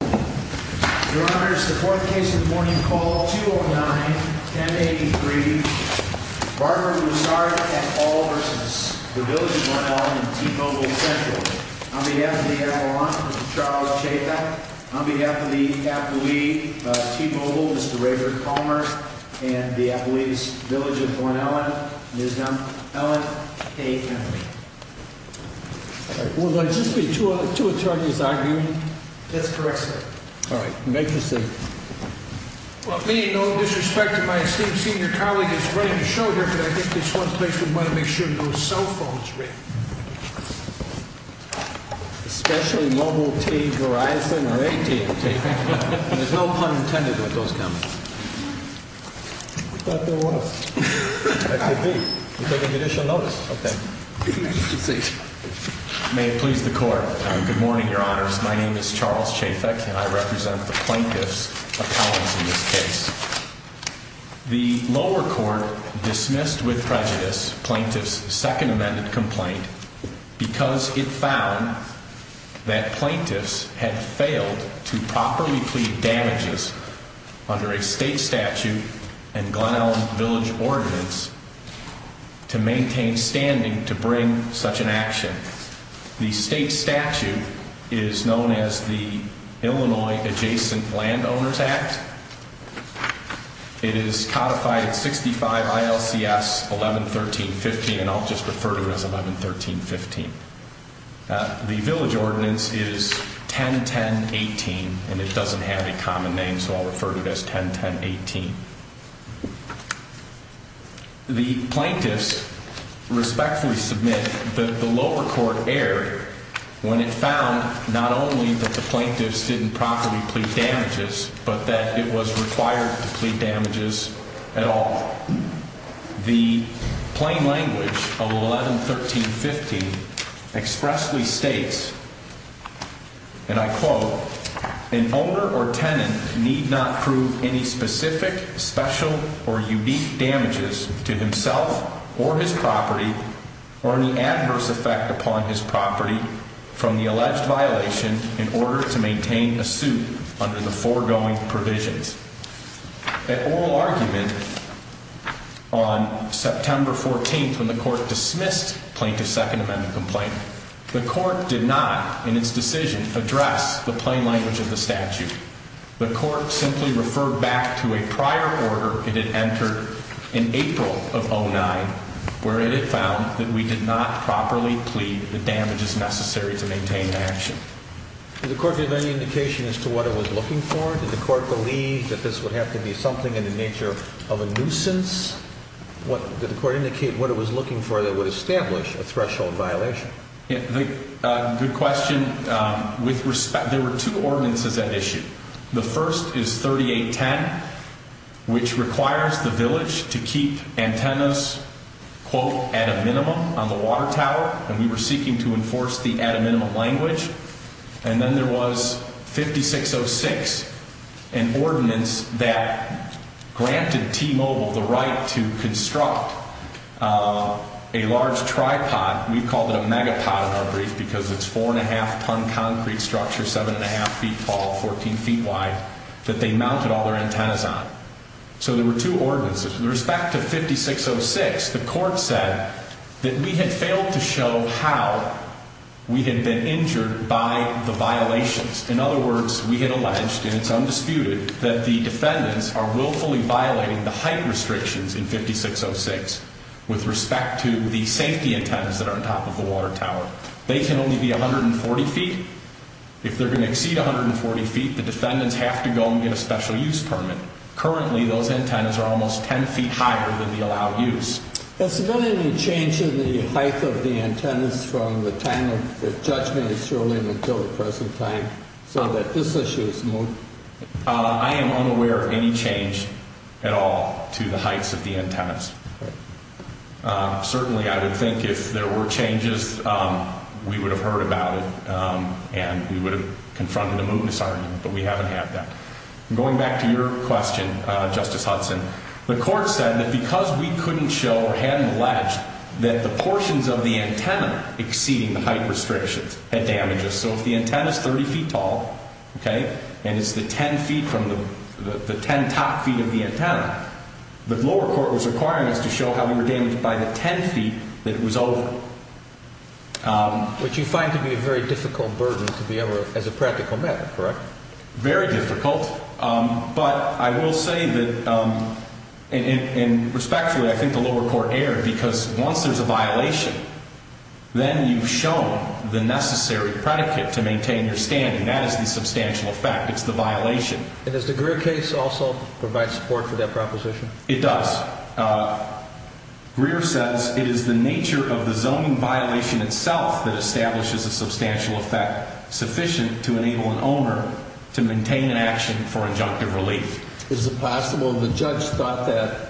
Your Honor, it's the fourth case of the morning, call 209-1083. Barbara Ruisard at all versus the Village of Glen Ellyn in T-Mobile Central. On behalf of the Airborne Officer, Mr. Charles Chaffin. On behalf of the affilee of T-Mobile, Mr. Rayford Palmer. And the affilee's Village of Glen Ellyn, Ms. Ellen A. Henry. Will there just be two attorneys arguing? That's correct, sir. All right, make your seat. Well, being no disrespect to my esteemed senior colleague who's running the show here, but I think this one place would want to make sure no cell phones ring. Especially Mobile T-Verizon or AT&T. There's no pun intended with those companies. I thought there was. That could be. You're taking judicial notice. Okay. Make your seat. May it please the court. Good morning, Your Honors. My name is Charles Chaffin and I represent the plaintiff's appellants in this case. The lower court dismissed with prejudice plaintiff's second amended complaint because it found that plaintiffs had failed to properly plead damages under a state statute and Glen Ellyn Village ordinance to maintain standing to bring such an action. The state statute is known as the Illinois Adjacent Landowners Act. It is codified at 65 ILCS 1113.15, and I'll just refer to it as 1113.15. The village ordinance is 1010.18, and it doesn't have a common name. So I'll refer to it as 1010.18. The plaintiffs respectfully submit that the lower court erred when it found not only that the plaintiffs didn't properly plead damages, but that it was required to plead damages at all. The plain language of 1113.15 expressly states, and I quote, an owner or tenant need not prove any specific, special, or unique damages to himself or his property or any adverse effect upon his property from the alleged violation in order to maintain a suit under the foregoing provisions. An oral argument on September 14th when the court dismissed plaintiff's Second Amendment complaint. The court did not, in its decision, address the plain language of the statute. The court simply referred back to a prior order it had entered in April of 2009 where it had found that we did not properly plead the damages necessary to maintain an action. Did the court give any indication as to what it was looking for? Did the court believe that this would have to be something in the nature of a nuisance? Did the court indicate what it was looking for that would establish a threshold violation? Good question. There were two ordinances at issue. The first is 3810, which requires the village to keep antennas, quote, at a minimum on the water tower, and we were seeking to enforce the at a minimum language. And then there was 5606, an ordinance that granted T-Mobile the right to construct a large tripod. We called it a megapod in our brief because it's four-and-a-half-ton concrete structure, seven-and-a-half feet tall, 14 feet wide, that they mounted all their antennas on. So there were two ordinances. With respect to 5606, the court said that we had failed to show how we had been injured by the violations. In other words, we had alleged, and it's undisputed, that the defendants are willfully violating the height restrictions in 5606 with respect to the safety antennas that are on top of the water tower. They can only be 140 feet. If they're going to exceed 140 feet, the defendants have to go and get a special use permit. Currently, those antennas are almost 10 feet higher than the allowed use. Has there been any change in the height of the antennas from the time of the judgment in Sterling until the present time so that this issue is moved? I am unaware of any change at all to the heights of the antennas. Certainly, I would think if there were changes, we would have heard about it and we would have confronted a mootness argument, but we haven't had that. Going back to your question, Justice Hudson, the court said that because we couldn't show or hadn't alleged that the portions of the antenna exceeding the height restrictions had damaged us, so if the antenna is 30 feet tall and it's the 10 top feet of the antenna, the lower court was requiring us to show how we were damaged by the 10 feet that it was over. Which you find to be a very difficult burden to be able to, as a practical matter, correct? Very difficult, but I will say that, and respectfully, I think the lower court erred because once there's a violation, then you've shown the necessary predicate to maintain your standing. That is the substantial effect. It's the violation. And does the Greer case also provide support for that proposition? It does. Greer says it is the nature of the zoning violation itself that establishes a substantial effect sufficient to enable an owner to maintain an action for injunctive relief. Is it possible the judge thought that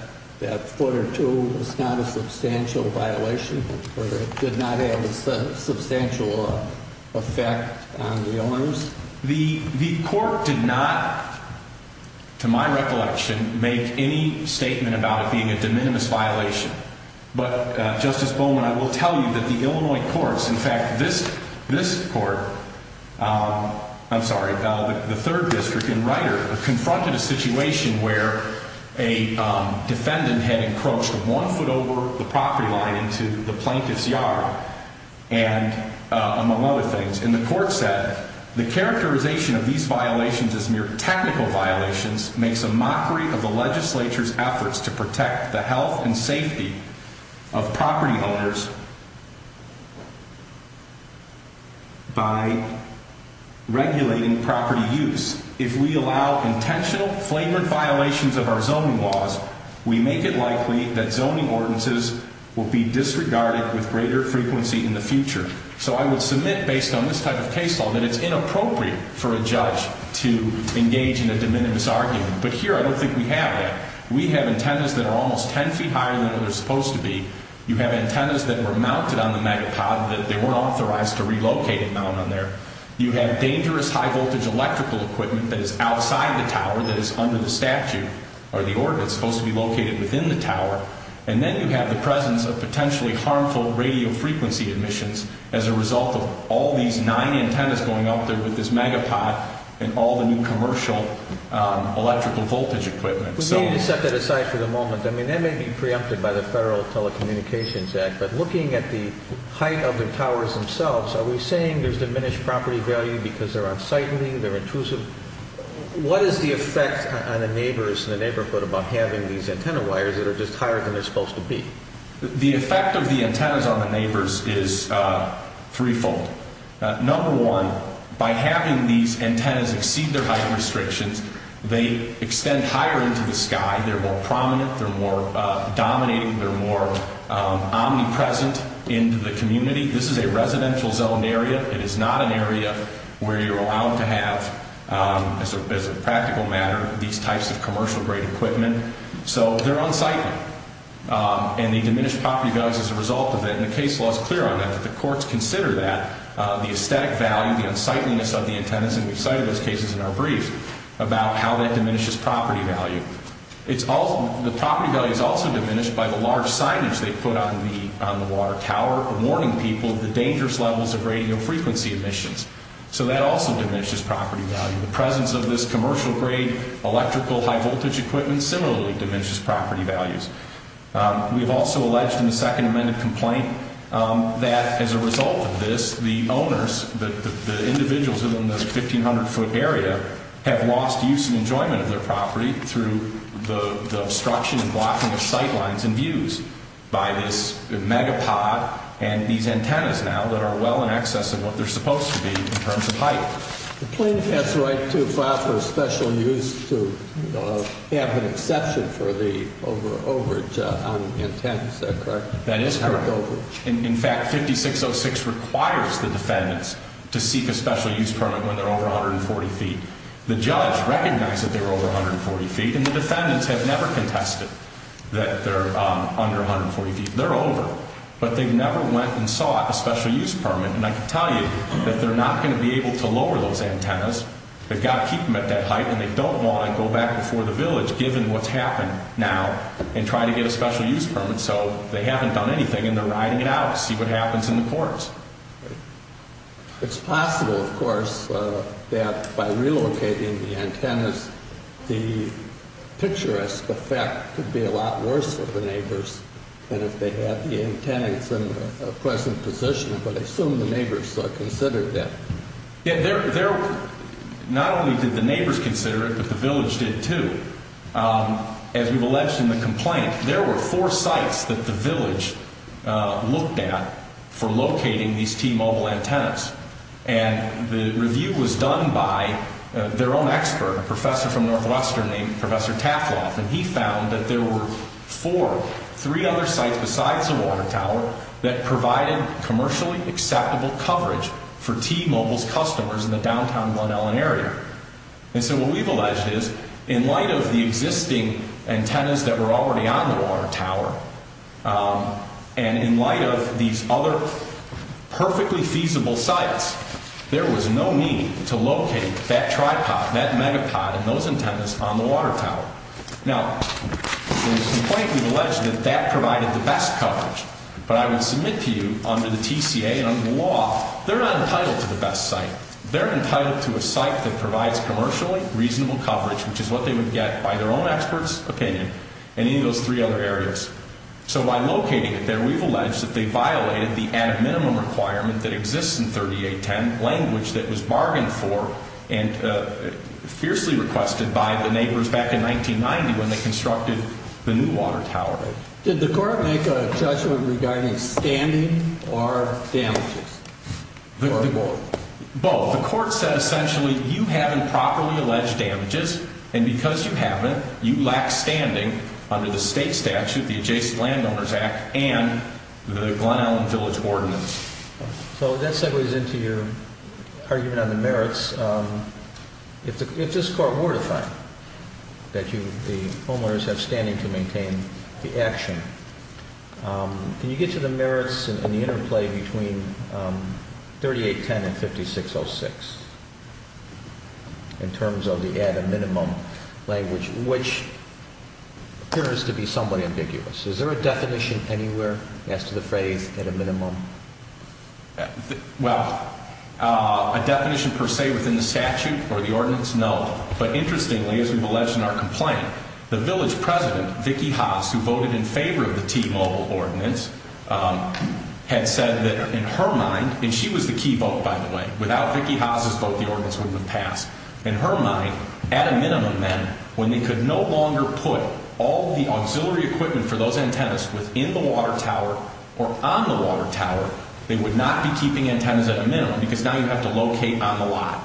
foot or two was not a substantial violation or it did not have a substantial effect on the owners? The court did not, to my recollection, make any statement about it being a de minimis violation, but, Justice Bowman, I will tell you that the Illinois courts, in fact, this court, I'm sorry, the third district in Rider, confronted a situation where a defendant had encroached one foot over the property line into the plaintiff's yard, among other things. And the court said, the characterization of these violations as mere technical violations makes a mockery of the legislature's efforts to protect the health and safety of property owners by regulating property use. If we allow intentional flagrant violations of our zoning laws, we make it likely that zoning ordinances will be disregarded with greater frequency in the future. So I would submit, based on this type of case law, that it's inappropriate for a judge to engage in a de minimis argument. But here, I don't think we have that. We have antennas that are almost ten feet higher than they're supposed to be. You have antennas that were mounted on the megapod that they weren't authorized to relocate and mount on there. You have dangerous high-voltage electrical equipment that is outside the tower, that is under the statute or the ordinance, supposed to be located within the tower. And then you have the presence of potentially harmful radio frequency emissions as a result of all these nine antennas going up there with this megapod and all the new commercial electrical voltage equipment. We need to set that aside for the moment. I mean, that may be preempted by the Federal Telecommunications Act, but looking at the height of the towers themselves, are we saying there's diminished property value because they're unsightly, they're intrusive? What is the effect on the neighbors in the neighborhood about having these antenna wires that are just higher than they're supposed to be? The effect of the antennas on the neighbors is threefold. Number one, by having these antennas exceed their height restrictions, they extend higher into the sky, they're more prominent, they're more dominating, they're more omnipresent into the community. This is a residential zone area. It is not an area where you're allowed to have, as a practical matter, these types of commercial-grade equipment. So they're unsightly, and they diminish property values as a result of it. And the case law is clear on that, that the courts consider that, the aesthetic value, the unsightliness of the antennas, and we've cited those cases in our brief about how that diminishes property value. The property value is also diminished by the large signage they put on the water tower warning people of the dangerous levels of radiofrequency emissions. So that also diminishes property value. The presence of this commercial-grade electrical high-voltage equipment similarly diminishes property values. We've also alleged in the second amended complaint that as a result of this, the owners, the individuals in the 1,500-foot area, have lost use and enjoyment of their property through the obstruction and blocking of sight lines and views by this megapod and these antennas now that are well in excess of what they're supposed to be in terms of height. The plaintiff has the right to file for special use to have an exception for the overage on antennas. Is that correct? That is correct. In fact, 5606 requires the defendants to seek a special use permit when they're over 140 feet. The judge recognized that they were over 140 feet, and the defendants have never contested that they're under 140 feet. They're over. But they've never went and sought a special use permit, and I can tell you that they're not going to be able to lower those antennas. They've got to keep them at that height, and they don't want to go back before the village given what's happened now and try to get a special use permit. So they haven't done anything, and they're riding it out to see what happens in the courts. It's possible, of course, that by relocating the antennas, the picturesque effect could be a lot worse for the neighbors than if they had the antennas in the present position, but I assume the neighbors considered that. Not only did the neighbors consider it, but the village did too. As we've alleged in the complaint, there were four sites that the village looked at for locating these T-Mobile antennas, and the review was done by their own expert, a professor from Northwestern named Professor Tafloff, and he found that there were four, three other sites besides the water tower that provided commercially acceptable coverage for T-Mobile's customers in the downtown Glen Ellyn area. And so what we've alleged is, in light of the existing antennas that were already on the water tower and in light of these other perfectly feasible sites, there was no need to locate that tripod, that megapod, and those antennas on the water tower. Now, in the complaint, we've alleged that that provided the best coverage, but I will submit to you under the TCA and under the law, they're not entitled to the best site. They're entitled to a site that provides commercially reasonable coverage, which is what they would get by their own expert's opinion in any of those three other areas. So by locating it there, we've alleged that they violated the added minimum requirement that exists in 3810, language that was bargained for and fiercely requested by the neighbors back in 1990 when they constructed the new water tower. Did the court make a judgment regarding standing or damages? Both. The court said essentially you haven't properly alleged damages, and because you haven't, you lack standing under the state statute, the Adjacent Landowners Act, and the Glen Ellyn Village Ordinance. So that segues into your argument on the merits. If this court were to find that the homeowners have standing to maintain the action, can you get to the merits and the interplay between 3810 and 5606 in terms of the added minimum language, which appears to be somewhat ambiguous. Is there a definition anywhere as to the phrase added minimum? Well, a definition per se within the statute or the ordinance, no. But interestingly, as we've alleged in our complaint, the village president, Vicki Haas, who voted in favor of the T-Mobile ordinance, had said that in her mind, and she was the key vote, by the way. Without Vicki Haas' vote, the ordinance wouldn't have passed. In her mind, at a minimum, then, when they could no longer put all the auxiliary equipment for those antennas within the water tower or on the water tower, they would not be keeping antennas at a minimum because now you have to locate on the lot.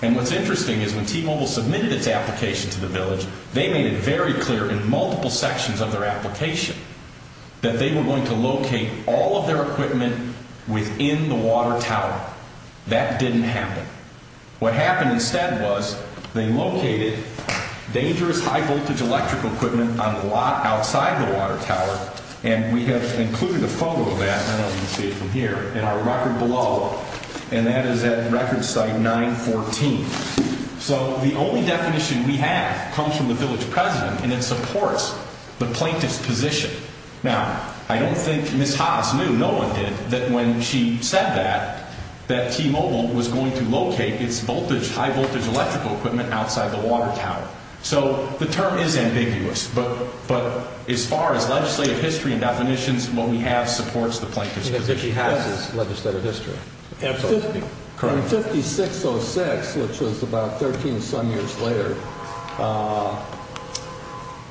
And what's interesting is when T-Mobile submitted its application to the village, they made it very clear in multiple sections of their application that they were going to locate all of their equipment within the water tower. That didn't happen. What happened instead was they located dangerous high-voltage electrical equipment on the lot outside the water tower, and we have included a photo of that, I don't know if you can see it from here, in our record below, and that is at record site 914. So the only definition we have comes from the village president, and it supports the plaintiff's position. Now, I don't think Ms. Haas knew, no one did, that when she said that, that T-Mobile was going to locate its high-voltage electrical equipment outside the water tower. So the term is ambiguous, but as far as legislative history and definitions, what we have supports the plaintiff's position. The plaintiff's position is that she has this legislative history. Absolutely. Correct. In 5606, which was about 13-some years later,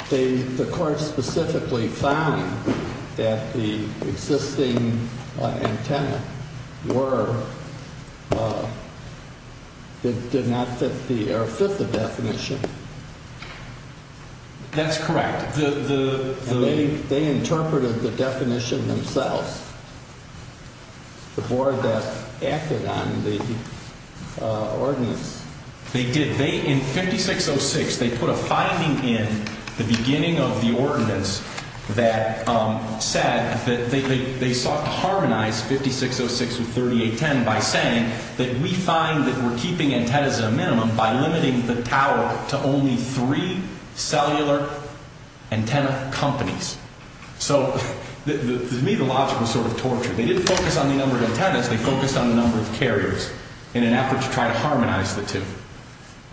the court specifically found that the existing antenna were, did not fit the definition. That's correct. And they interpreted the definition themselves, the board that acted on the ordinance. They did. In 5606, they put a finding in the beginning of the ordinance that said that they sought to harmonize 5606 with 3810 by saying that we find that we're keeping antennas at a minimum by limiting the tower to only three cellular antenna companies. So to me, the logic was sort of torture. They didn't focus on the number of antennas. They focused on the number of carriers in an effort to try to harmonize the two.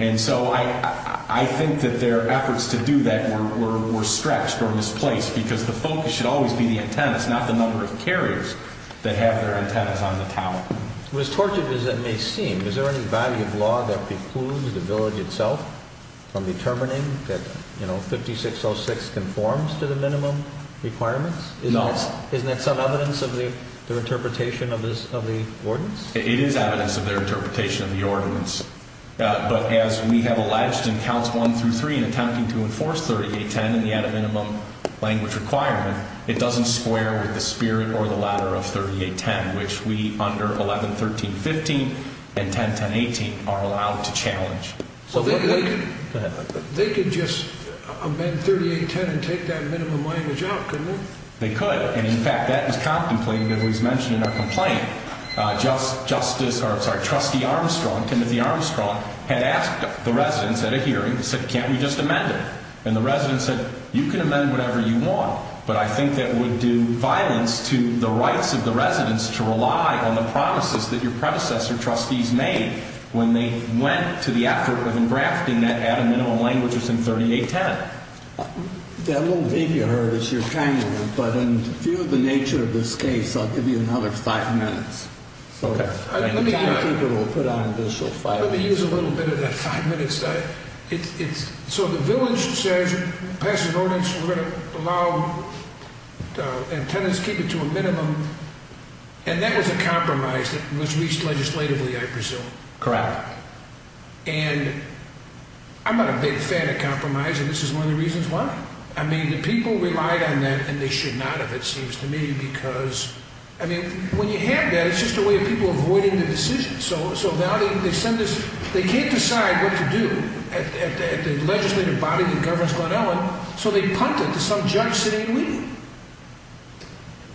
And so I think that their efforts to do that were stretched or misplaced because the focus should always be the antennas, not the number of carriers that have their antennas on the tower. It was torture as it may seem. Is there any value of law that precludes the village itself from determining that, you know, 5606 conforms to the minimum requirements? No. Isn't that some evidence of their interpretation of the ordinance? It is evidence of their interpretation of the ordinance. But as we have alleged in counts one through three in attempting to enforce 3810 and the added minimum language requirement, it doesn't square with the spirit or the latter of 3810, which we under 1113.15 and 1010.18 are allowed to challenge. So they could just amend 3810 and take that minimum language out, couldn't they? They could. And, in fact, that was contemplated, as was mentioned in our complaint. Trustee Armstrong, Timothy Armstrong, had asked the residents at a hearing, said, can't we just amend it? And the residents said, you can amend whatever you want, but I think that would do violence to the rights of the residents to rely on the promises that your predecessor trustees made when they went to the effort of engrafting that added minimum language within 3810. That little thing you heard is your time limit, but in view of the nature of this case, I'll give you another five minutes. Okay. Let me use a little bit of that five minutes. So the village says, we're going to allow tenants to keep it to a minimum, and that was a compromise that was reached legislatively, I presume. Correct. And I'm not a big fan of compromise, and this is one of the reasons why. I mean, the people relied on that, and they should not, it seems to me, because, I mean, when you have that, it's just a way of people avoiding the decision. So now they send this, they can't decide what to do at the legislative body that governs Glen Ellyn, so they punt it to some judge sitting in Wheaton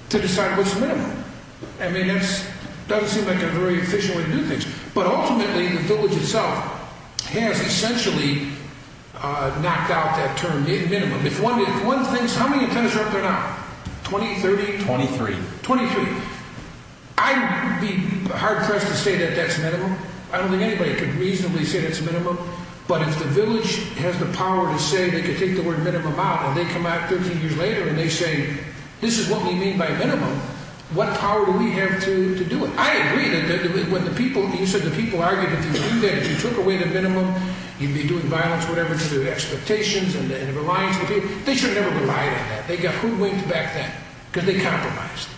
to decide what's the minimum. I mean, that doesn't seem like a very efficient way to do things, but ultimately the village itself has essentially knocked out that term, minimum. If one thinks, how many tenants are up there now, 20, 30? Twenty-three. Twenty-three. I would be hard-pressed to say that that's minimum. I don't think anybody could reasonably say that's minimum, but if the village has the power to say they can take the word minimum out, and they come out 13 years later and they say, this is what we mean by minimum, what power do we have to do it? I agree that when the people, you said the people argued that if you do that, if you took away the minimum, you'd be doing violence, whatever, to their expectations and the reliance on the people. They should have never relied on that. Who went back then? Because they compromised.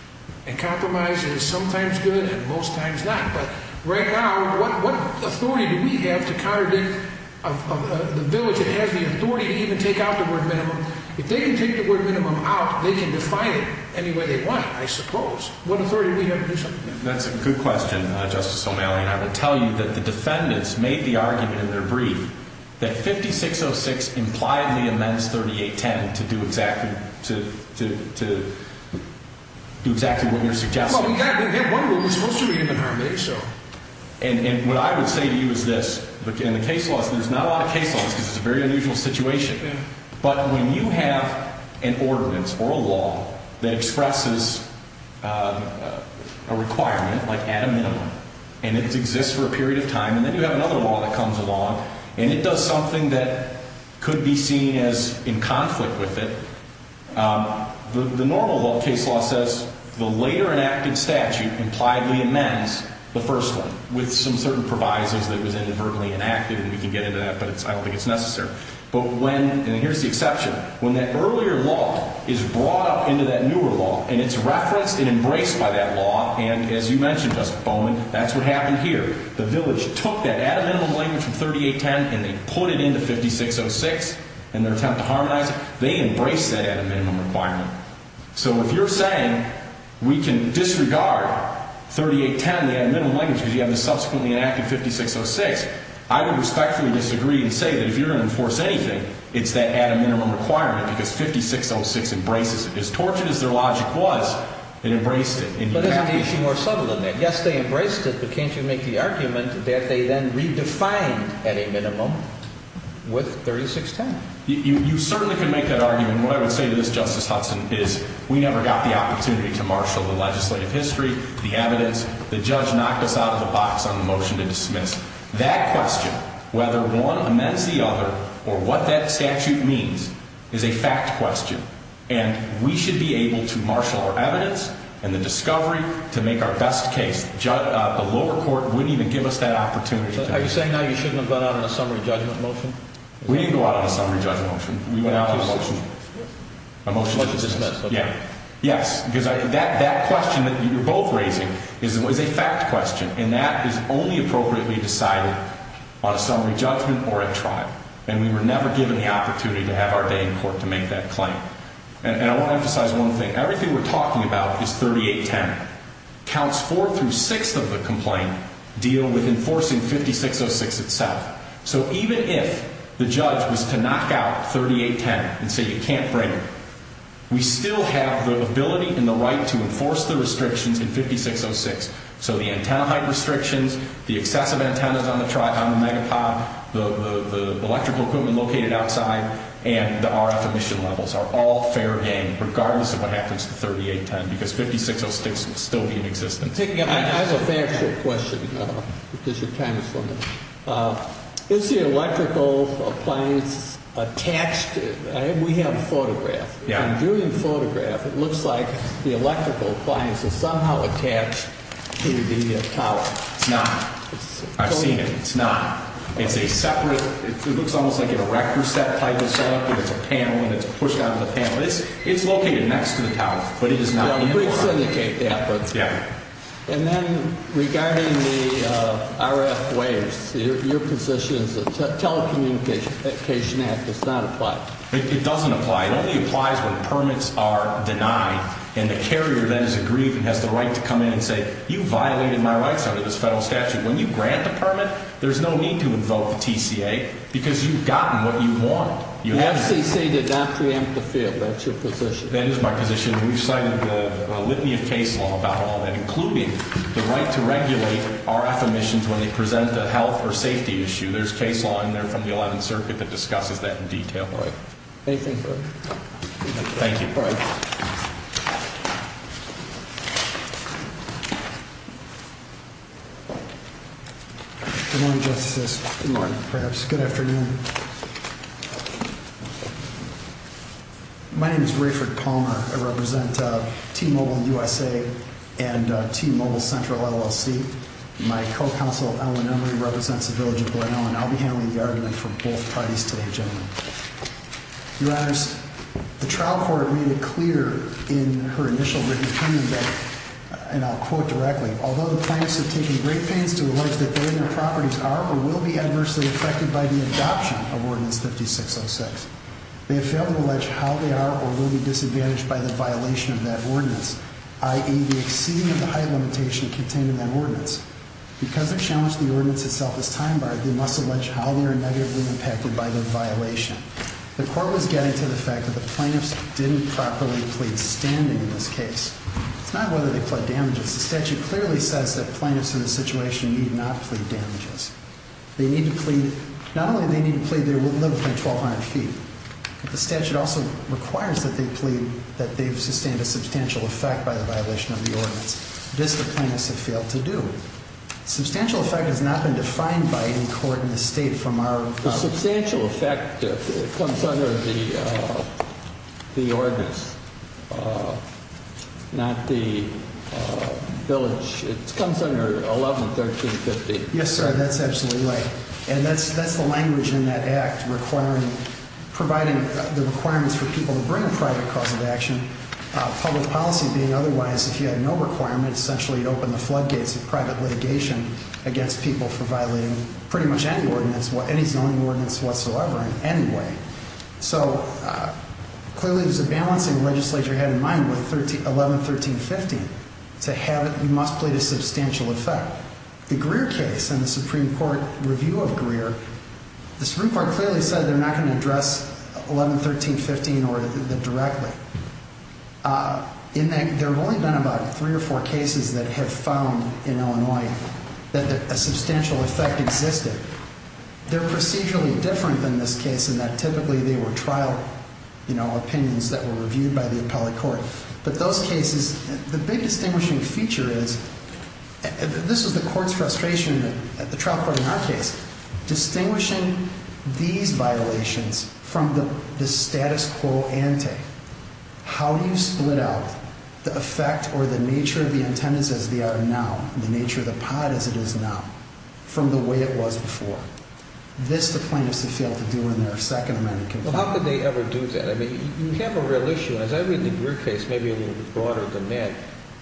And compromise is sometimes good and most times not. But right now, what authority do we have to contradict the village that has the authority to even take out the word minimum? If they can take the word minimum out, they can define it any way they want, I suppose. What authority do we have to do something? That's a good question, Justice O'Malley, and I will tell you that the defendants made the argument in their brief that 5606 implied the amends 3810 to do exactly what you're suggesting. Well, we have one rule. We're supposed to be getting the harm they show. And what I would say to you is this. In the case laws, there's not a lot of case laws because it's a very unusual situation. But when you have an ordinance or a law that expresses a requirement, like add a minimum, and it exists for a period of time, and then you have another law that comes along and it does something that could be seen as in conflict with it, the normal case law says the later enacted statute impliedly amends the first one with some certain provisos that was inadvertently enacted, and we can get into that, but I don't think it's necessary. But when, and here's the exception, when that earlier law is brought up into that newer law and it's referenced and embraced by that law, and as you mentioned, Justice Bowman, that's what happened here. The village took that add a minimum language from 3810 and they put it into 5606 in their attempt to harmonize it. They embraced that add a minimum requirement. So if you're saying we can disregard 3810, the add a minimum language, because you have the subsequently enacted 5606, I would respectfully disagree and say that if you're going to enforce anything, it's that add a minimum requirement because 5606 embraces it. As tortured as their logic was, it embraced it. But there's an issue more subtle than that. Yes, they embraced it, but can't you make the argument that they then redefined add a minimum with 3610? You certainly can make that argument. What I would say to this, Justice Hudson, is we never got the opportunity to marshal the legislative history, the evidence. The judge knocked us out of the box on the motion to dismiss. That question, whether one amends the other or what that statute means, is a fact question, and we should be able to marshal our evidence and the discovery to make our best case. The lower court wouldn't even give us that opportunity. Are you saying now you shouldn't have gone out on a summary judgment motion? We didn't go out on a summary judgment motion. We went out on a motion to dismiss. Yes, because that question that you're both raising is a fact question, and we were never given the opportunity to have our day in court to make that claim. And I want to emphasize one thing. Everything we're talking about is 3810. Counts 4 through 6 of the complaint deal with enforcing 5606 itself. So even if the judge was to knock out 3810 and say you can't bring it, we still have the ability and the right to enforce the restrictions in 5606. So the antenna height restrictions, the excessive antennas on the megapod, the electrical equipment located outside, and the RF emission levels are all fair game regardless of what happens to 3810 because 5606 will still be in existence. I have a factual question because your time is limited. Is the electrical appliance attached? We have a photograph. I'm doing the photograph. It looks like the electrical appliance is somehow attached to the tower. It's not. I've seen it. It's not. It's a separate. It looks almost like an erector set type of setup, but it's a panel and it's pushed onto the panel. It's located next to the tower, but it is not. And then regarding the RF waves, your position is the Telecommunication Act does not apply. It doesn't apply. It only applies when permits are denied and the carrier then is aggrieved and has the right to come in and say you violated my rights under this federal statute. When you grant the permit, there's no need to invoke the TCA because you've gotten what you want. The FCC did not preempt the field. That's your position. That is my position. We've cited the litany of case law about all that, including the right to regulate RF emissions when they present a health or safety issue. Anything further? Thank you. All right. Good morning, Justices. Good morning, perhaps. Good afternoon. My name is Rayford Palmer. I represent T-Mobile USA and T-Mobile Central LLC. My co-counsel, Ellen Emory, represents the village of Glenelg, and I'll be handling the argument for both parties today, gentlemen. Your Honors, the trial court made it clear in her initial written opinion that, and I'll quote directly, although the plaintiffs have taken great pains to allege that they and their properties are or will be adversely affected by the adoption of Ordinance 5606, they have failed to allege how they are or will be disadvantaged by the violation of that ordinance, i.e. the exceeding of the height limitation contained in that ordinance. Because they challenged the ordinance itself as time-barred, they must allege how they are negatively impacted by the violation. The court was getting to the fact that the plaintiffs didn't properly plead standing in this case. It's not whether they pled damages. The statute clearly says that plaintiffs in this situation need not plead damages. They need to plead, not only do they need to plead they will live within 1,200 feet, but the statute also requires that they plead that they've sustained a substantial effect by the violation of the ordinance. This the plaintiffs have failed to do. Substantial effect has not been defined by any court in the state from our view. The substantial effect comes under the ordinance, not the village. It comes under 111350. Yes, sir, that's absolutely right. And that's the language in that act requiring, providing the requirements for people to bring a private cause of action, public policy being otherwise if you had no requirement, essentially you'd open the floodgates of private litigation against people for violating pretty much any ordinance, any zoning ordinance whatsoever in any way. So clearly there's a balancing the legislature had in mind with 111350. To have it, you must plead a substantial effect. The Supreme Court clearly said they're not going to address 111350 directly. There have only been about three or four cases that have found in Illinois that a substantial effect existed. They're procedurally different than this case in that typically they were trial, you know, opinions that were reviewed by the appellate court. But those cases, the big distinguishing feature is, this is the court's frustration at the trial court in our case, distinguishing these violations from the status quo ante, how you split out the effect or the nature of the attendance as they are now, the nature of the pot as it is now, from the way it was before. This the plaintiffs have failed to do in their second amendment. Well, how could they ever do that? I mean, you have a real issue. And as I read in your case, maybe a little bit broader than that,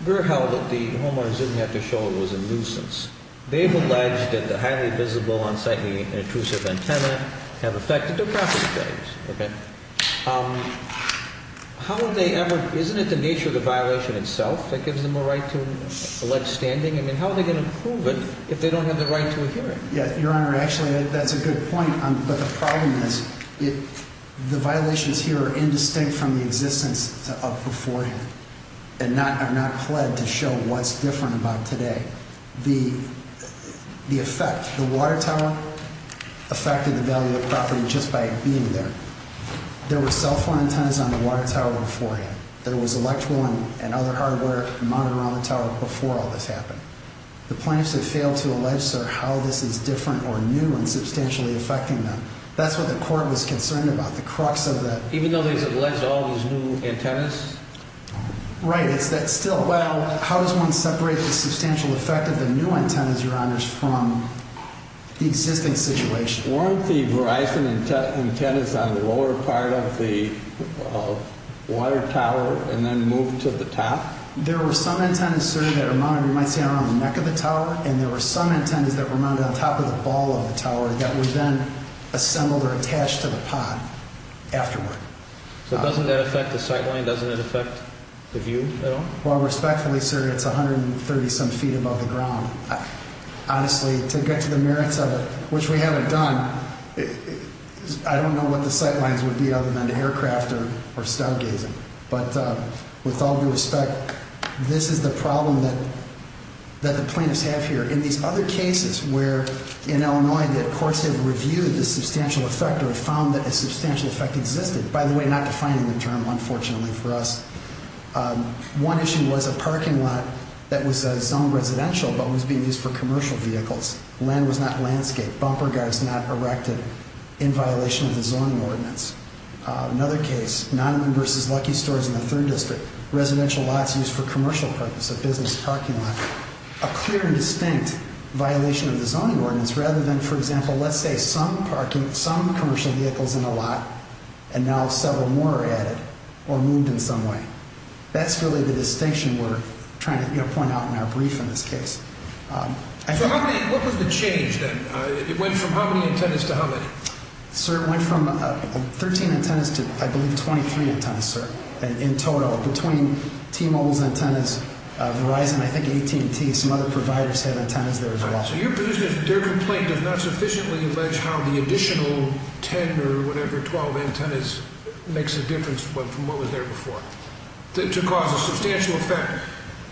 we're held that the homeowners didn't have to show it was a nuisance. They've alleged that the highly visible, unsightly, intrusive antenna have affected their property values. Okay. How would they ever, isn't it the nature of the violation itself that gives them a right to allege standing? I mean, how are they going to prove it if they don't have the right to a hearing? Yeah, Your Honor, actually, that's a good point. But the problem is, the violations here are indistinct from the existence of before him and have not pled to show what's different about today. The effect, the water tower affected the value of the property just by being there. There were cell phone antennas on the water tower before him. There was electrical and other hardware mounted around the tower before all this happened. The plaintiffs have failed to allege, sir, how this is different or new and substantially affecting them. That's what the court was concerned about, the crux of the… Even though they've alleged all these new antennas? Right. It's that still, well, how does one separate the substantial effect of the new antennas, Your Honors, from the existing situation? Weren't the Verizon antennas on the lower part of the water tower and then moved to the top? There were some antennas, sir, that were mounted, you might say, around the neck of the tower, and there were some antennas that were mounted on top of the ball of the tower that were then assembled or attached to the pod afterward. So doesn't that affect the sight line? Doesn't it affect the view at all? Well, respectfully, sir, it's 130-some feet above the ground. Honestly, to get to the merits of it, which we haven't done, I don't know what the sight lines would be other than aircraft or stargazing. But with all due respect, this is the problem that the plaintiffs have here. In these other cases where, in Illinois, the courts have reviewed the substantial effect or have found that a substantial effect existed, by the way, not defining the term, unfortunately, for us, one issue was a parking lot that was zoned residential but was being used for commercial vehicles. Land was not landscaped. Bumper guards not erected in violation of the zoning ordinance. Another case, Nottingham v. Lucky Stores in the 3rd District, residential lots used for commercial purpose, a business parking lot, a clear and distinct violation of the zoning ordinance rather than, for example, let's say some commercial vehicles in a lot and now several more are added or moved in some way. That's really the distinction we're trying to point out in our brief in this case. So what was the change then? It went from how many antennas to how many? Sir, it went from 13 antennas to, I believe, 23 antennas, sir, in total. Between T-Mobile's antennas, Verizon, I think AT&T, some other providers have antennas there as well. So your position is their complaint does not sufficiently allege how the additional 10 or whatever, 12 antennas makes a difference from what was there before to cause a substantial effect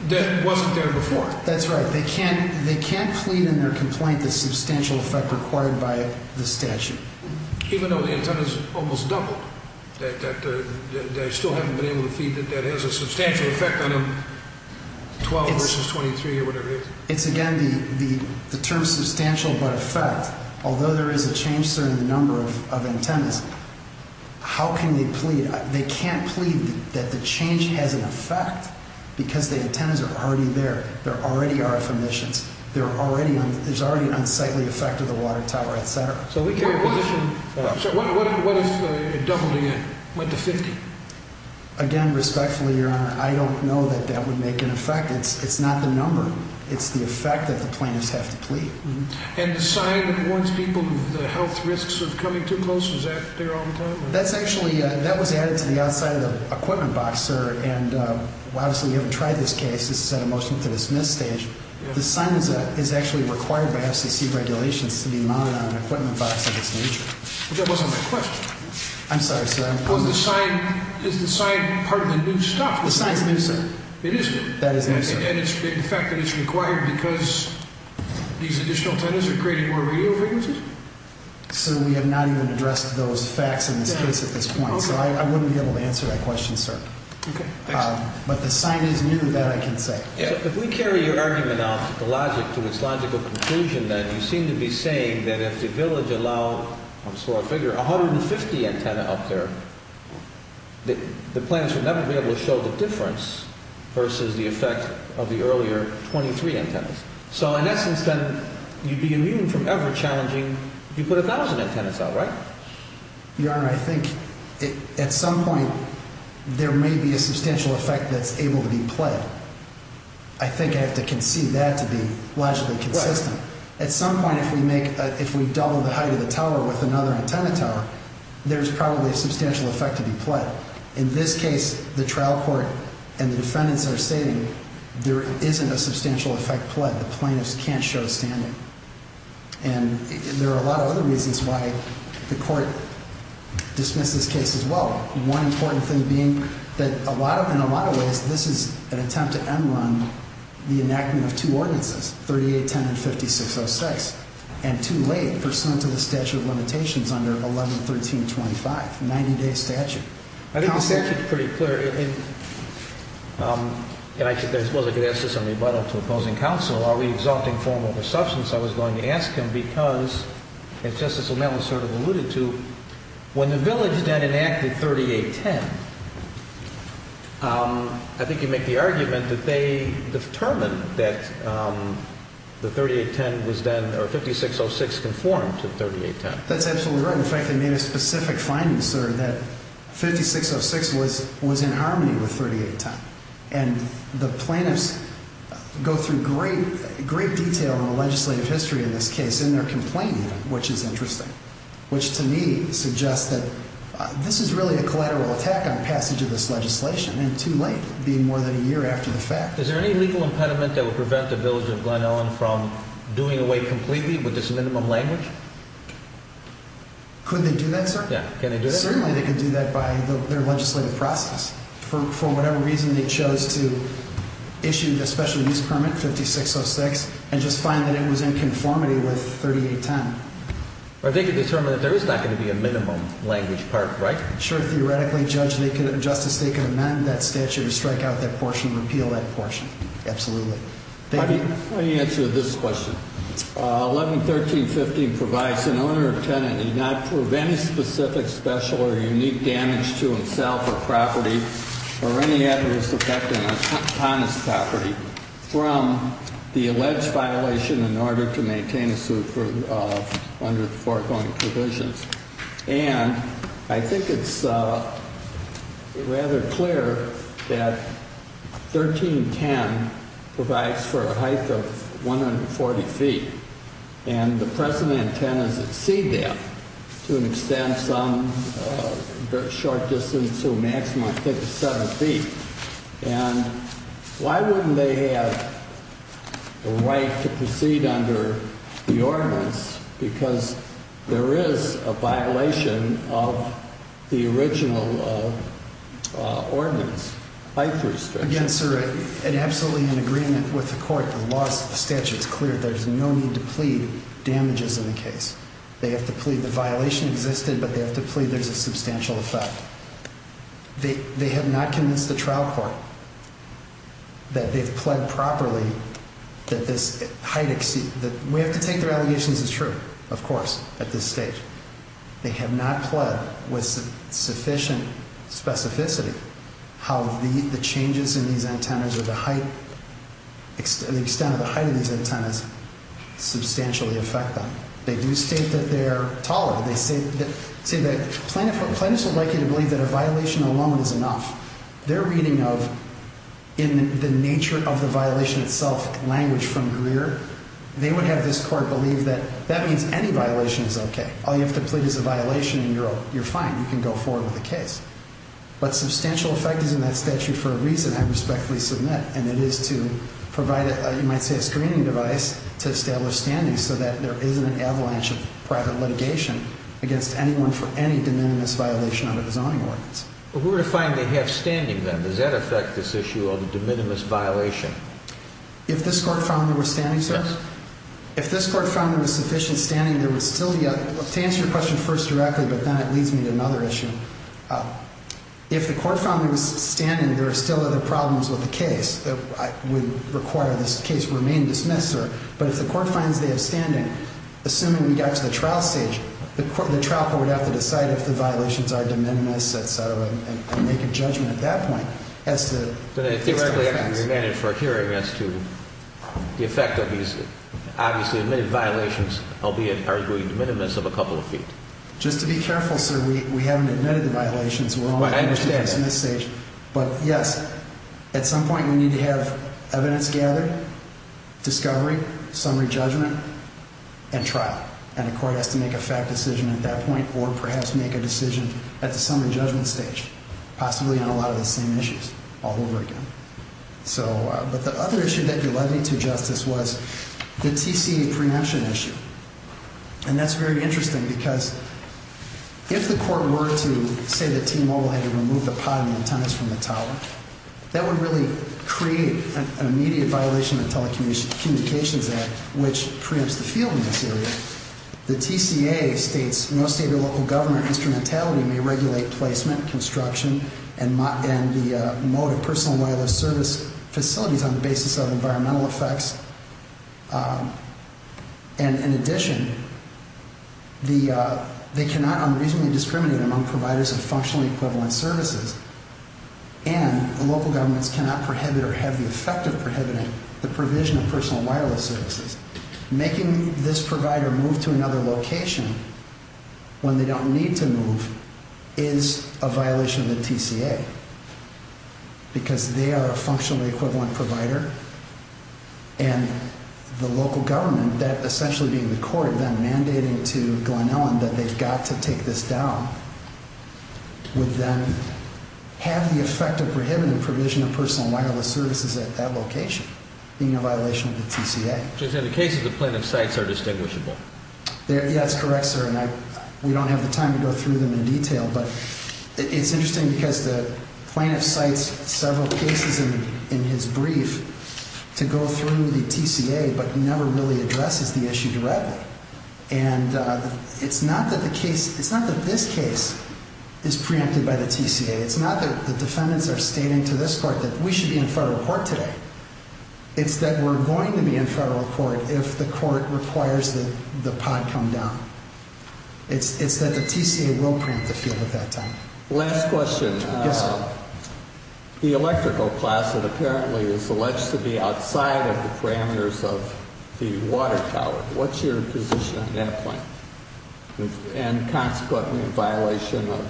that wasn't there before? That's right. They can't plead in their complaint the substantial effect required by the statute. Even though the antennas almost doubled, they still haven't been able to feed it, that has a substantial effect on a 12 versus 23 or whatever it is? It's, again, the term substantial but effect. Although there is a change, sir, in the number of antennas, how can they plead? They can't plead that the change has an effect because the antennas are already there. There are already RF emissions. There's already an unsightly effect of the water tower, et cetera. So what if it doubled again, went to 50? Again, respectfully, Your Honor, I don't know that that would make an effect. It's not the number. It's the effect that the plaintiffs have to plead. And the sign that warns people of the health risks of coming too close, is that there all the time? That's actually, that was added to the outside of the equipment box, sir, and obviously we haven't tried this case. This is at a motion to dismiss stage. The sign is actually required by FCC regulations to be mounted on an equipment box of this nature. But that wasn't my question. I'm sorry, sir. The sign's new, sir. It is new. That is new, sir. And the fact that it's required because these additional antennas are creating more radio frequencies? Sir, we have not even addressed those facts in this case at this point. So I wouldn't be able to answer that question, sir. Okay, thanks. But the sign is new, that I can say. If we carry your argument off the logic to its logical conclusion, then, you seem to be saying that if the village allowed, I'm sorry, 150 antenna up there, the plants would never be able to show the difference versus the effect of the earlier 23 antennas. So in essence, then, you'd be immune from ever challenging, you put 1,000 antennas out, right? Your Honor, I think at some point there may be a substantial effect that's able to be played. I think I have to concede that to be logically consistent. At some point, if we make, if we double the height of the tower with another antenna tower, there's probably a substantial effect to be played. In this case, the trial court and the defendants are stating there isn't a substantial effect played. The plaintiffs can't show a standing. And there are a lot of other reasons why the court dismissed this case as well. One important thing being that a lot of, in a lot of ways, this is an attempt to end run the enactment of two ordinances, 3810 and 5606. And too late pursuant to the statute of limitations under 111325, 90-day statute. I think the statute's pretty clear. And I suppose I could ask this on rebuttal to opposing counsel. Are we exalting form over substance? I suppose I was going to ask him because, as Justice O'Malley sort of alluded to, when the village then enacted 3810, I think you make the argument that they determined that the 3810 was then, or 5606 conformed to 3810. That's absolutely right. In fact, they made a specific finding, sir, that 5606 was in harmony with 3810. And the plaintiffs go through great, great detail in the legislative history in this case in their complaint, which is interesting, which to me suggests that this is really a collateral attack on passage of this legislation. And too late, being more than a year after the fact. Is there any legal impediment that would prevent the village of Glen Ellyn from doing away completely with this minimum language? Could they do that, sir? Yeah, can they do that? Apparently, they could do that by their legislative process. For whatever reason, they chose to issue the special use permit, 5606, and just find that it was in conformity with 3810. Or they could determine that there is not going to be a minimum language part, right? Sure, theoretically, Judge, Justice, they could amend that statute or strike out that portion, repeal that portion. Absolutely. Thank you. Let me answer this question. 1113.15 provides an owner or tenant need not prove any specific, special, or unique damage to himself or property or any adverse effect upon his property from the alleged violation in order to maintain a suit under the foregoing provisions. And I think it's rather clear that 1310 provides for a height of 140 feet. And the present intent is to exceed that, to an extent, some short distance to a maximum, I think, of seven feet. And why wouldn't they have the right to proceed under the ordinance? Because there is a violation of the original ordinance, height restriction. Again, sir, in absolutely in agreement with the court, the law, the statute's clear. There's no need to plead damages in the case. They have to plead the violation existed, but they have to plead there's a substantial effect. They have not convinced the trial court that they've pled properly that this height exceed that we have to take their allegations is true. Of course, at this stage, they have not pled with sufficient specificity. How the changes in these antennas or the height, the extent of the height of these antennas substantially affect them. They do state that they're taller. They say that plaintiffs are likely to believe that a violation alone is enough. They're reading of in the nature of the violation itself language from Greer. They would have this court believe that that means any violation is OK. All you have to plead is a violation and you're fine. You can go forward with the case. But substantial effect is in that statute for a reason I respectfully submit. And it is to provide it. You might say a screening device to establish standing so that there isn't an avalanche of private litigation against anyone for any de minimis violation of the zoning ordinance. We're going to find they have standing them. Does that affect this issue of the de minimis violation? If this court found there was standing, sir, if this court found there was sufficient standing, there was still yet to answer your question first directly. But then it leads me to another issue. If the court found there was standing, there are still other problems with the case that would require this case remain dismissed, sir. But if the court finds they have standing, assuming we got to the trial stage, the trial court would have to decide if the violations are de minimis, etc. And make a judgment at that point. As to the effect of these, obviously, violations, albeit are de minimis of a couple of feet. Just to be careful, sir, we haven't admitted the violations. We're on the stage. But yes, at some point we need to have evidence gathered, discovery, summary judgment and trial. And the court has to make a fact decision at that point or perhaps make a decision at the summary judgment stage. Possibly on a lot of the same issues all over again. So but the other issue that you led me to justice was the TC preemption issue. And that's very interesting because if the court were to say that T-Mobile had to remove the pod and the antennas from the tower, that would really create an immediate violation of Telecommunications Act, which preempts the field in this area. The TCA states no state or local government instrumentality may regulate placement, construction, and the mode of personal and wireless service facilities on the basis of environmental effects. And in addition, they cannot unreasonably discriminate among providers of functionally equivalent services. And local governments cannot prohibit or have the effect of prohibiting the provision of personal and wireless services. Making this provider move to another location when they don't need to move is a violation of the TCA. Because they are a functionally equivalent provider. And the local government, that essentially being the court, then mandating to Glen Ellen that they've got to take this down, would then have the effect of prohibiting the provision of personal and wireless services at that location. Being a violation of the TCA. So in the case of the plaintiff's sites are distinguishable. Yeah, that's correct, sir. It's interesting because the plaintiff cites several cases in his brief to go through the TCA, but never really addresses the issue directly. And it's not that this case is preempted by the TCA. It's not that the defendants are stating to this court that we should be in federal court today. It's that we're going to be in federal court if the court requires that the pod come down. It's that the TCA will preempt the field at that time. Last question. Yes, sir. The electrical class that apparently is alleged to be outside of the parameters of the water tower. What's your position on that point? And consequently a violation of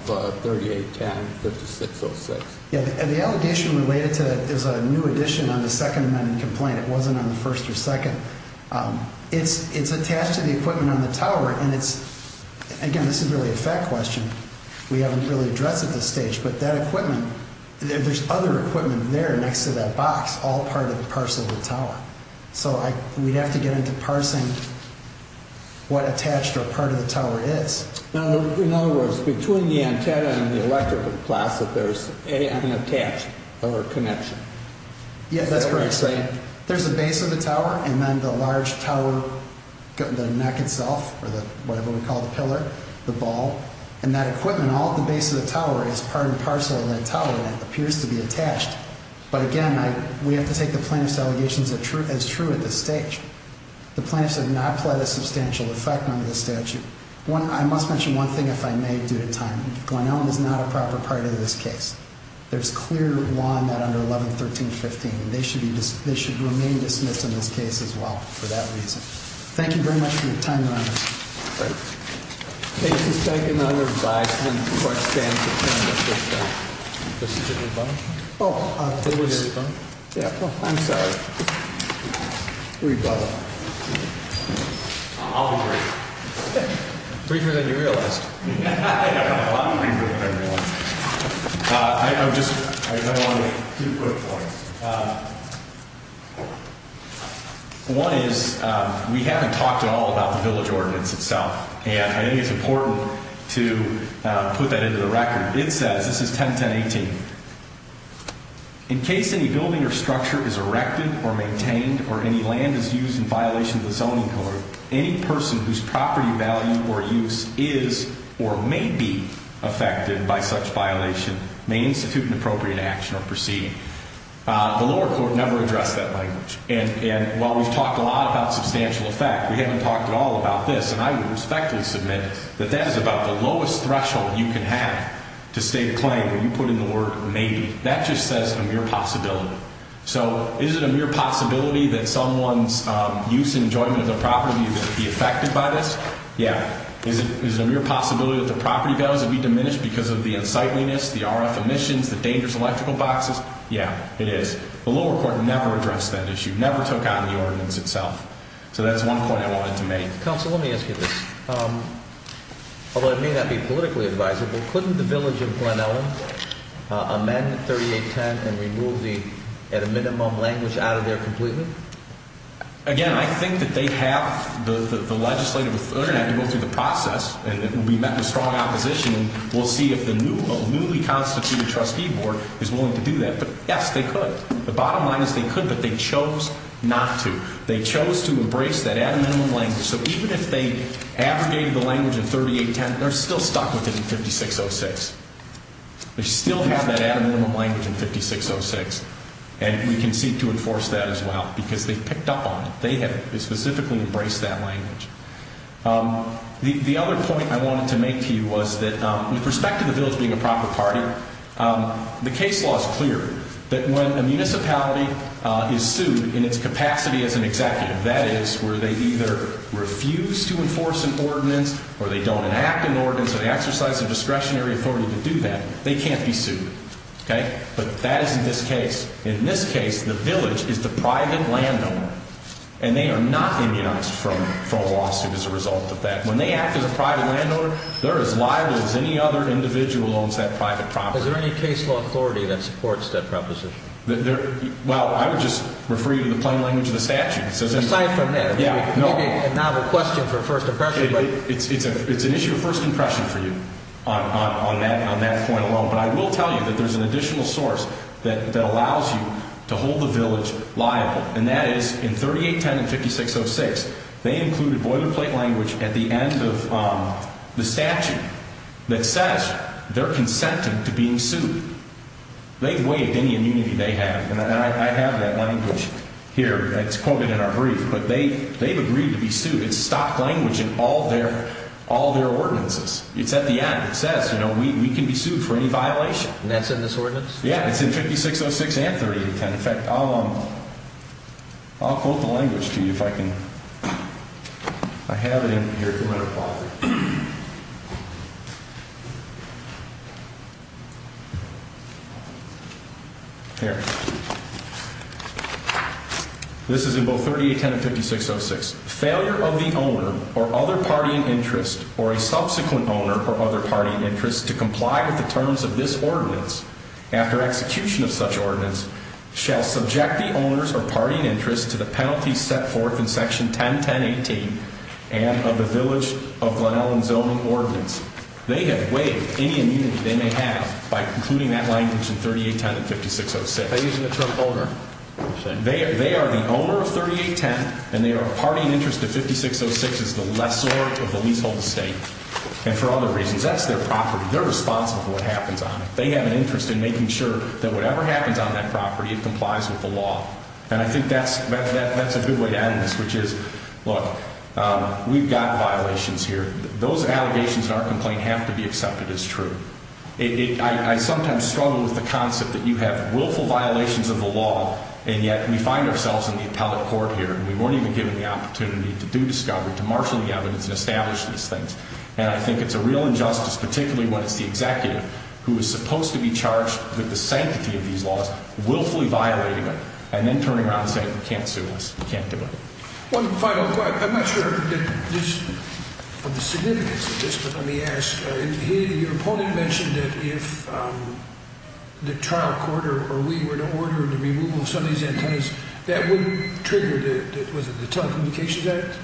3810-5606. Yeah, the allegation related to that is a new addition on the Second Amendment complaint. It wasn't on the first or second. It's attached to the equipment on the tower. And it's, again, this is really a fact question. We haven't really addressed it at this stage. But that equipment, there's other equipment there next to that box, all part of the parcel of the tower. So we'd have to get into parsing what attached or part of the tower is. Now, in other words, between the antenna and the electrical class that there's an attached or connection. Yeah, that's correct, sir. There's a base of the tower and then the large tower, the neck itself, or whatever we call the pillar, the ball. And that equipment, all at the base of the tower, is part and parcel of that tower. And it appears to be attached. But, again, we have to take the plaintiff's allegations as true at this stage. The plaintiffs have not pled a substantial effect under the statute. I must mention one thing, if I may, due to time. Glen Elm is not a proper part of this case. There's clear law on that under 1113-15. They should remain dismissed in this case as well for that reason. Thank you very much for your time, Your Honor. Great. Case is taken under revised and the court stands adjourned at this time. This is a rebuttal? Oh. It was a rebuttal? Yeah. Oh, I'm sorry. Rebuttal. I'll be brief. Briefer than you realized. I know. A lot briefer than I realized. I just want to make two quick points. One is we haven't talked at all about the village ordinance itself, and I think it's important to put that into the record. It says, this is 1010-18, in case any building or structure is erected or maintained or any land is used in violation of the Zoning Code, any person whose property value or use is or may be affected by such violation may institute an appropriate action or proceed. The lower court never addressed that language. And while we've talked a lot about substantial effect, we haven't talked at all about this, and I would respectfully submit that that is about the lowest threshold you can have to state a claim when you put in the word maybe. That just says a mere possibility. So is it a mere possibility that someone's use and enjoyment of their property would be affected by this? Yeah. Is it a mere possibility that the property values would be diminished because of the unsightliness, the RF emissions, the dangerous electrical boxes? Yeah, it is. The lower court never addressed that issue, never took out the ordinance itself. So that's one point I wanted to make. Counsel, let me ask you this. Although it may not be politically advisable, couldn't the village of Glen Ellyn amend 3810 and remove the at a minimum language out of there completely? Again, I think that they have the legislative authority to go through the process, and it will be met with strong opposition, and we'll see if the newly constituted trustee board is willing to do that. But, yes, they could. The bottom line is they could, but they chose not to. They chose to embrace that at a minimum language. So even if they abrogated the language in 3810, they're still stuck with it in 5606. They still have that at a minimum language in 5606, and we can seek to enforce that as well because they picked up on it. They have specifically embraced that language. The other point I wanted to make to you was that, with respect to the village being a proper party, the case law is clear that when a municipality is sued in its capacity as an executive, that is, where they either refuse to enforce an ordinance or they don't enact an ordinance or they exercise a discretionary authority to do that, they can't be sued. But that is in this case. In this case, the village is the private landowner, and they are not immunized from a lawsuit as a result of that. When they act as a private landowner, they're as liable as any other individual owns that private property. Is there any case law authority that supports that proposition? Well, I would just refer you to the plain language of the statute. Aside from that, maybe a novel question for first impression. It's an issue of first impression for you on that point alone. But I will tell you that there's an additional source that allows you to hold the village liable. And that is, in 3810 and 5606, they included boilerplate language at the end of the statute that says they're consenting to being sued. They've waived any immunity they have. And I have that language here. It's quoted in our brief. But they've agreed to be sued. It's stock language in all their ordinances. It's at the end. It says, you know, we can be sued for any violation. And that's in this ordinance? Yeah. It's in 5606 and 3810. In fact, I'll quote the language to you if I can. I have it in here. Here. This is in both 3810 and 5606. Failure of the owner or other party in interest or a subsequent owner or other party in interest to comply with the terms of this ordinance after execution of such ordinance shall subject the owners or party in interest to the penalty set forth in Section 101018 and of the Village of Glenelg and Zoning Ordinance. They have waived any immunity they may have by including that language in 3810 and 5606. Are they using the term owner? They are the owner of 3810, and they are a party in interest to 5606 as the lessor of the leasehold estate. And for other reasons, that's their property. They're responsible for what happens on it. They have an interest in making sure that whatever happens on that property, it complies with the law. And I think that's a good way to end this, which is, look, we've got violations here. Those allegations in our complaint have to be accepted as true. I sometimes struggle with the concept that you have willful violations of the law, and yet we find ourselves in the appellate court here, and we weren't even given the opportunity to do discovery, to marshal the evidence, and establish these things. And I think it's a real injustice, particularly when it's the executive who is supposed to be charged with the sanctity of these laws, willfully violating them, and then turning around and saying, you can't sue us, you can't do it. One final question. I'm not sure of the significance of this, but let me ask. Your opponent mentioned that if the trial court or we were to order the removal of some of these antennas, that would trigger the Telecommunications Act,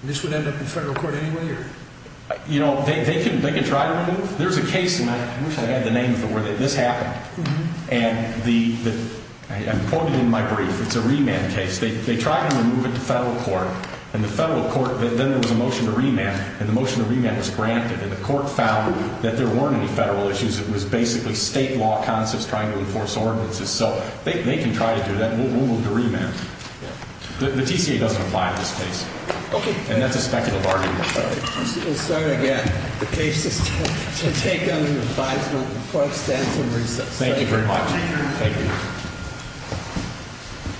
and this would end up in federal court anyway? You know, they can try to remove. There's a case, and I wish I had the name of the word, that this happened. And I'm quoting in my brief. It's a remand case. They tried to remove it to federal court, and then there was a motion to remand, and the motion to remand was granted, and the court found that there weren't any federal issues. It was basically state law concepts trying to enforce ordinances, so they can try to do that, and we'll move to remand. The TCA doesn't apply to this case, and that's a speculative argument. We'll start again. The case is to take under advisement for extensive research. Thank you very much. Thank you.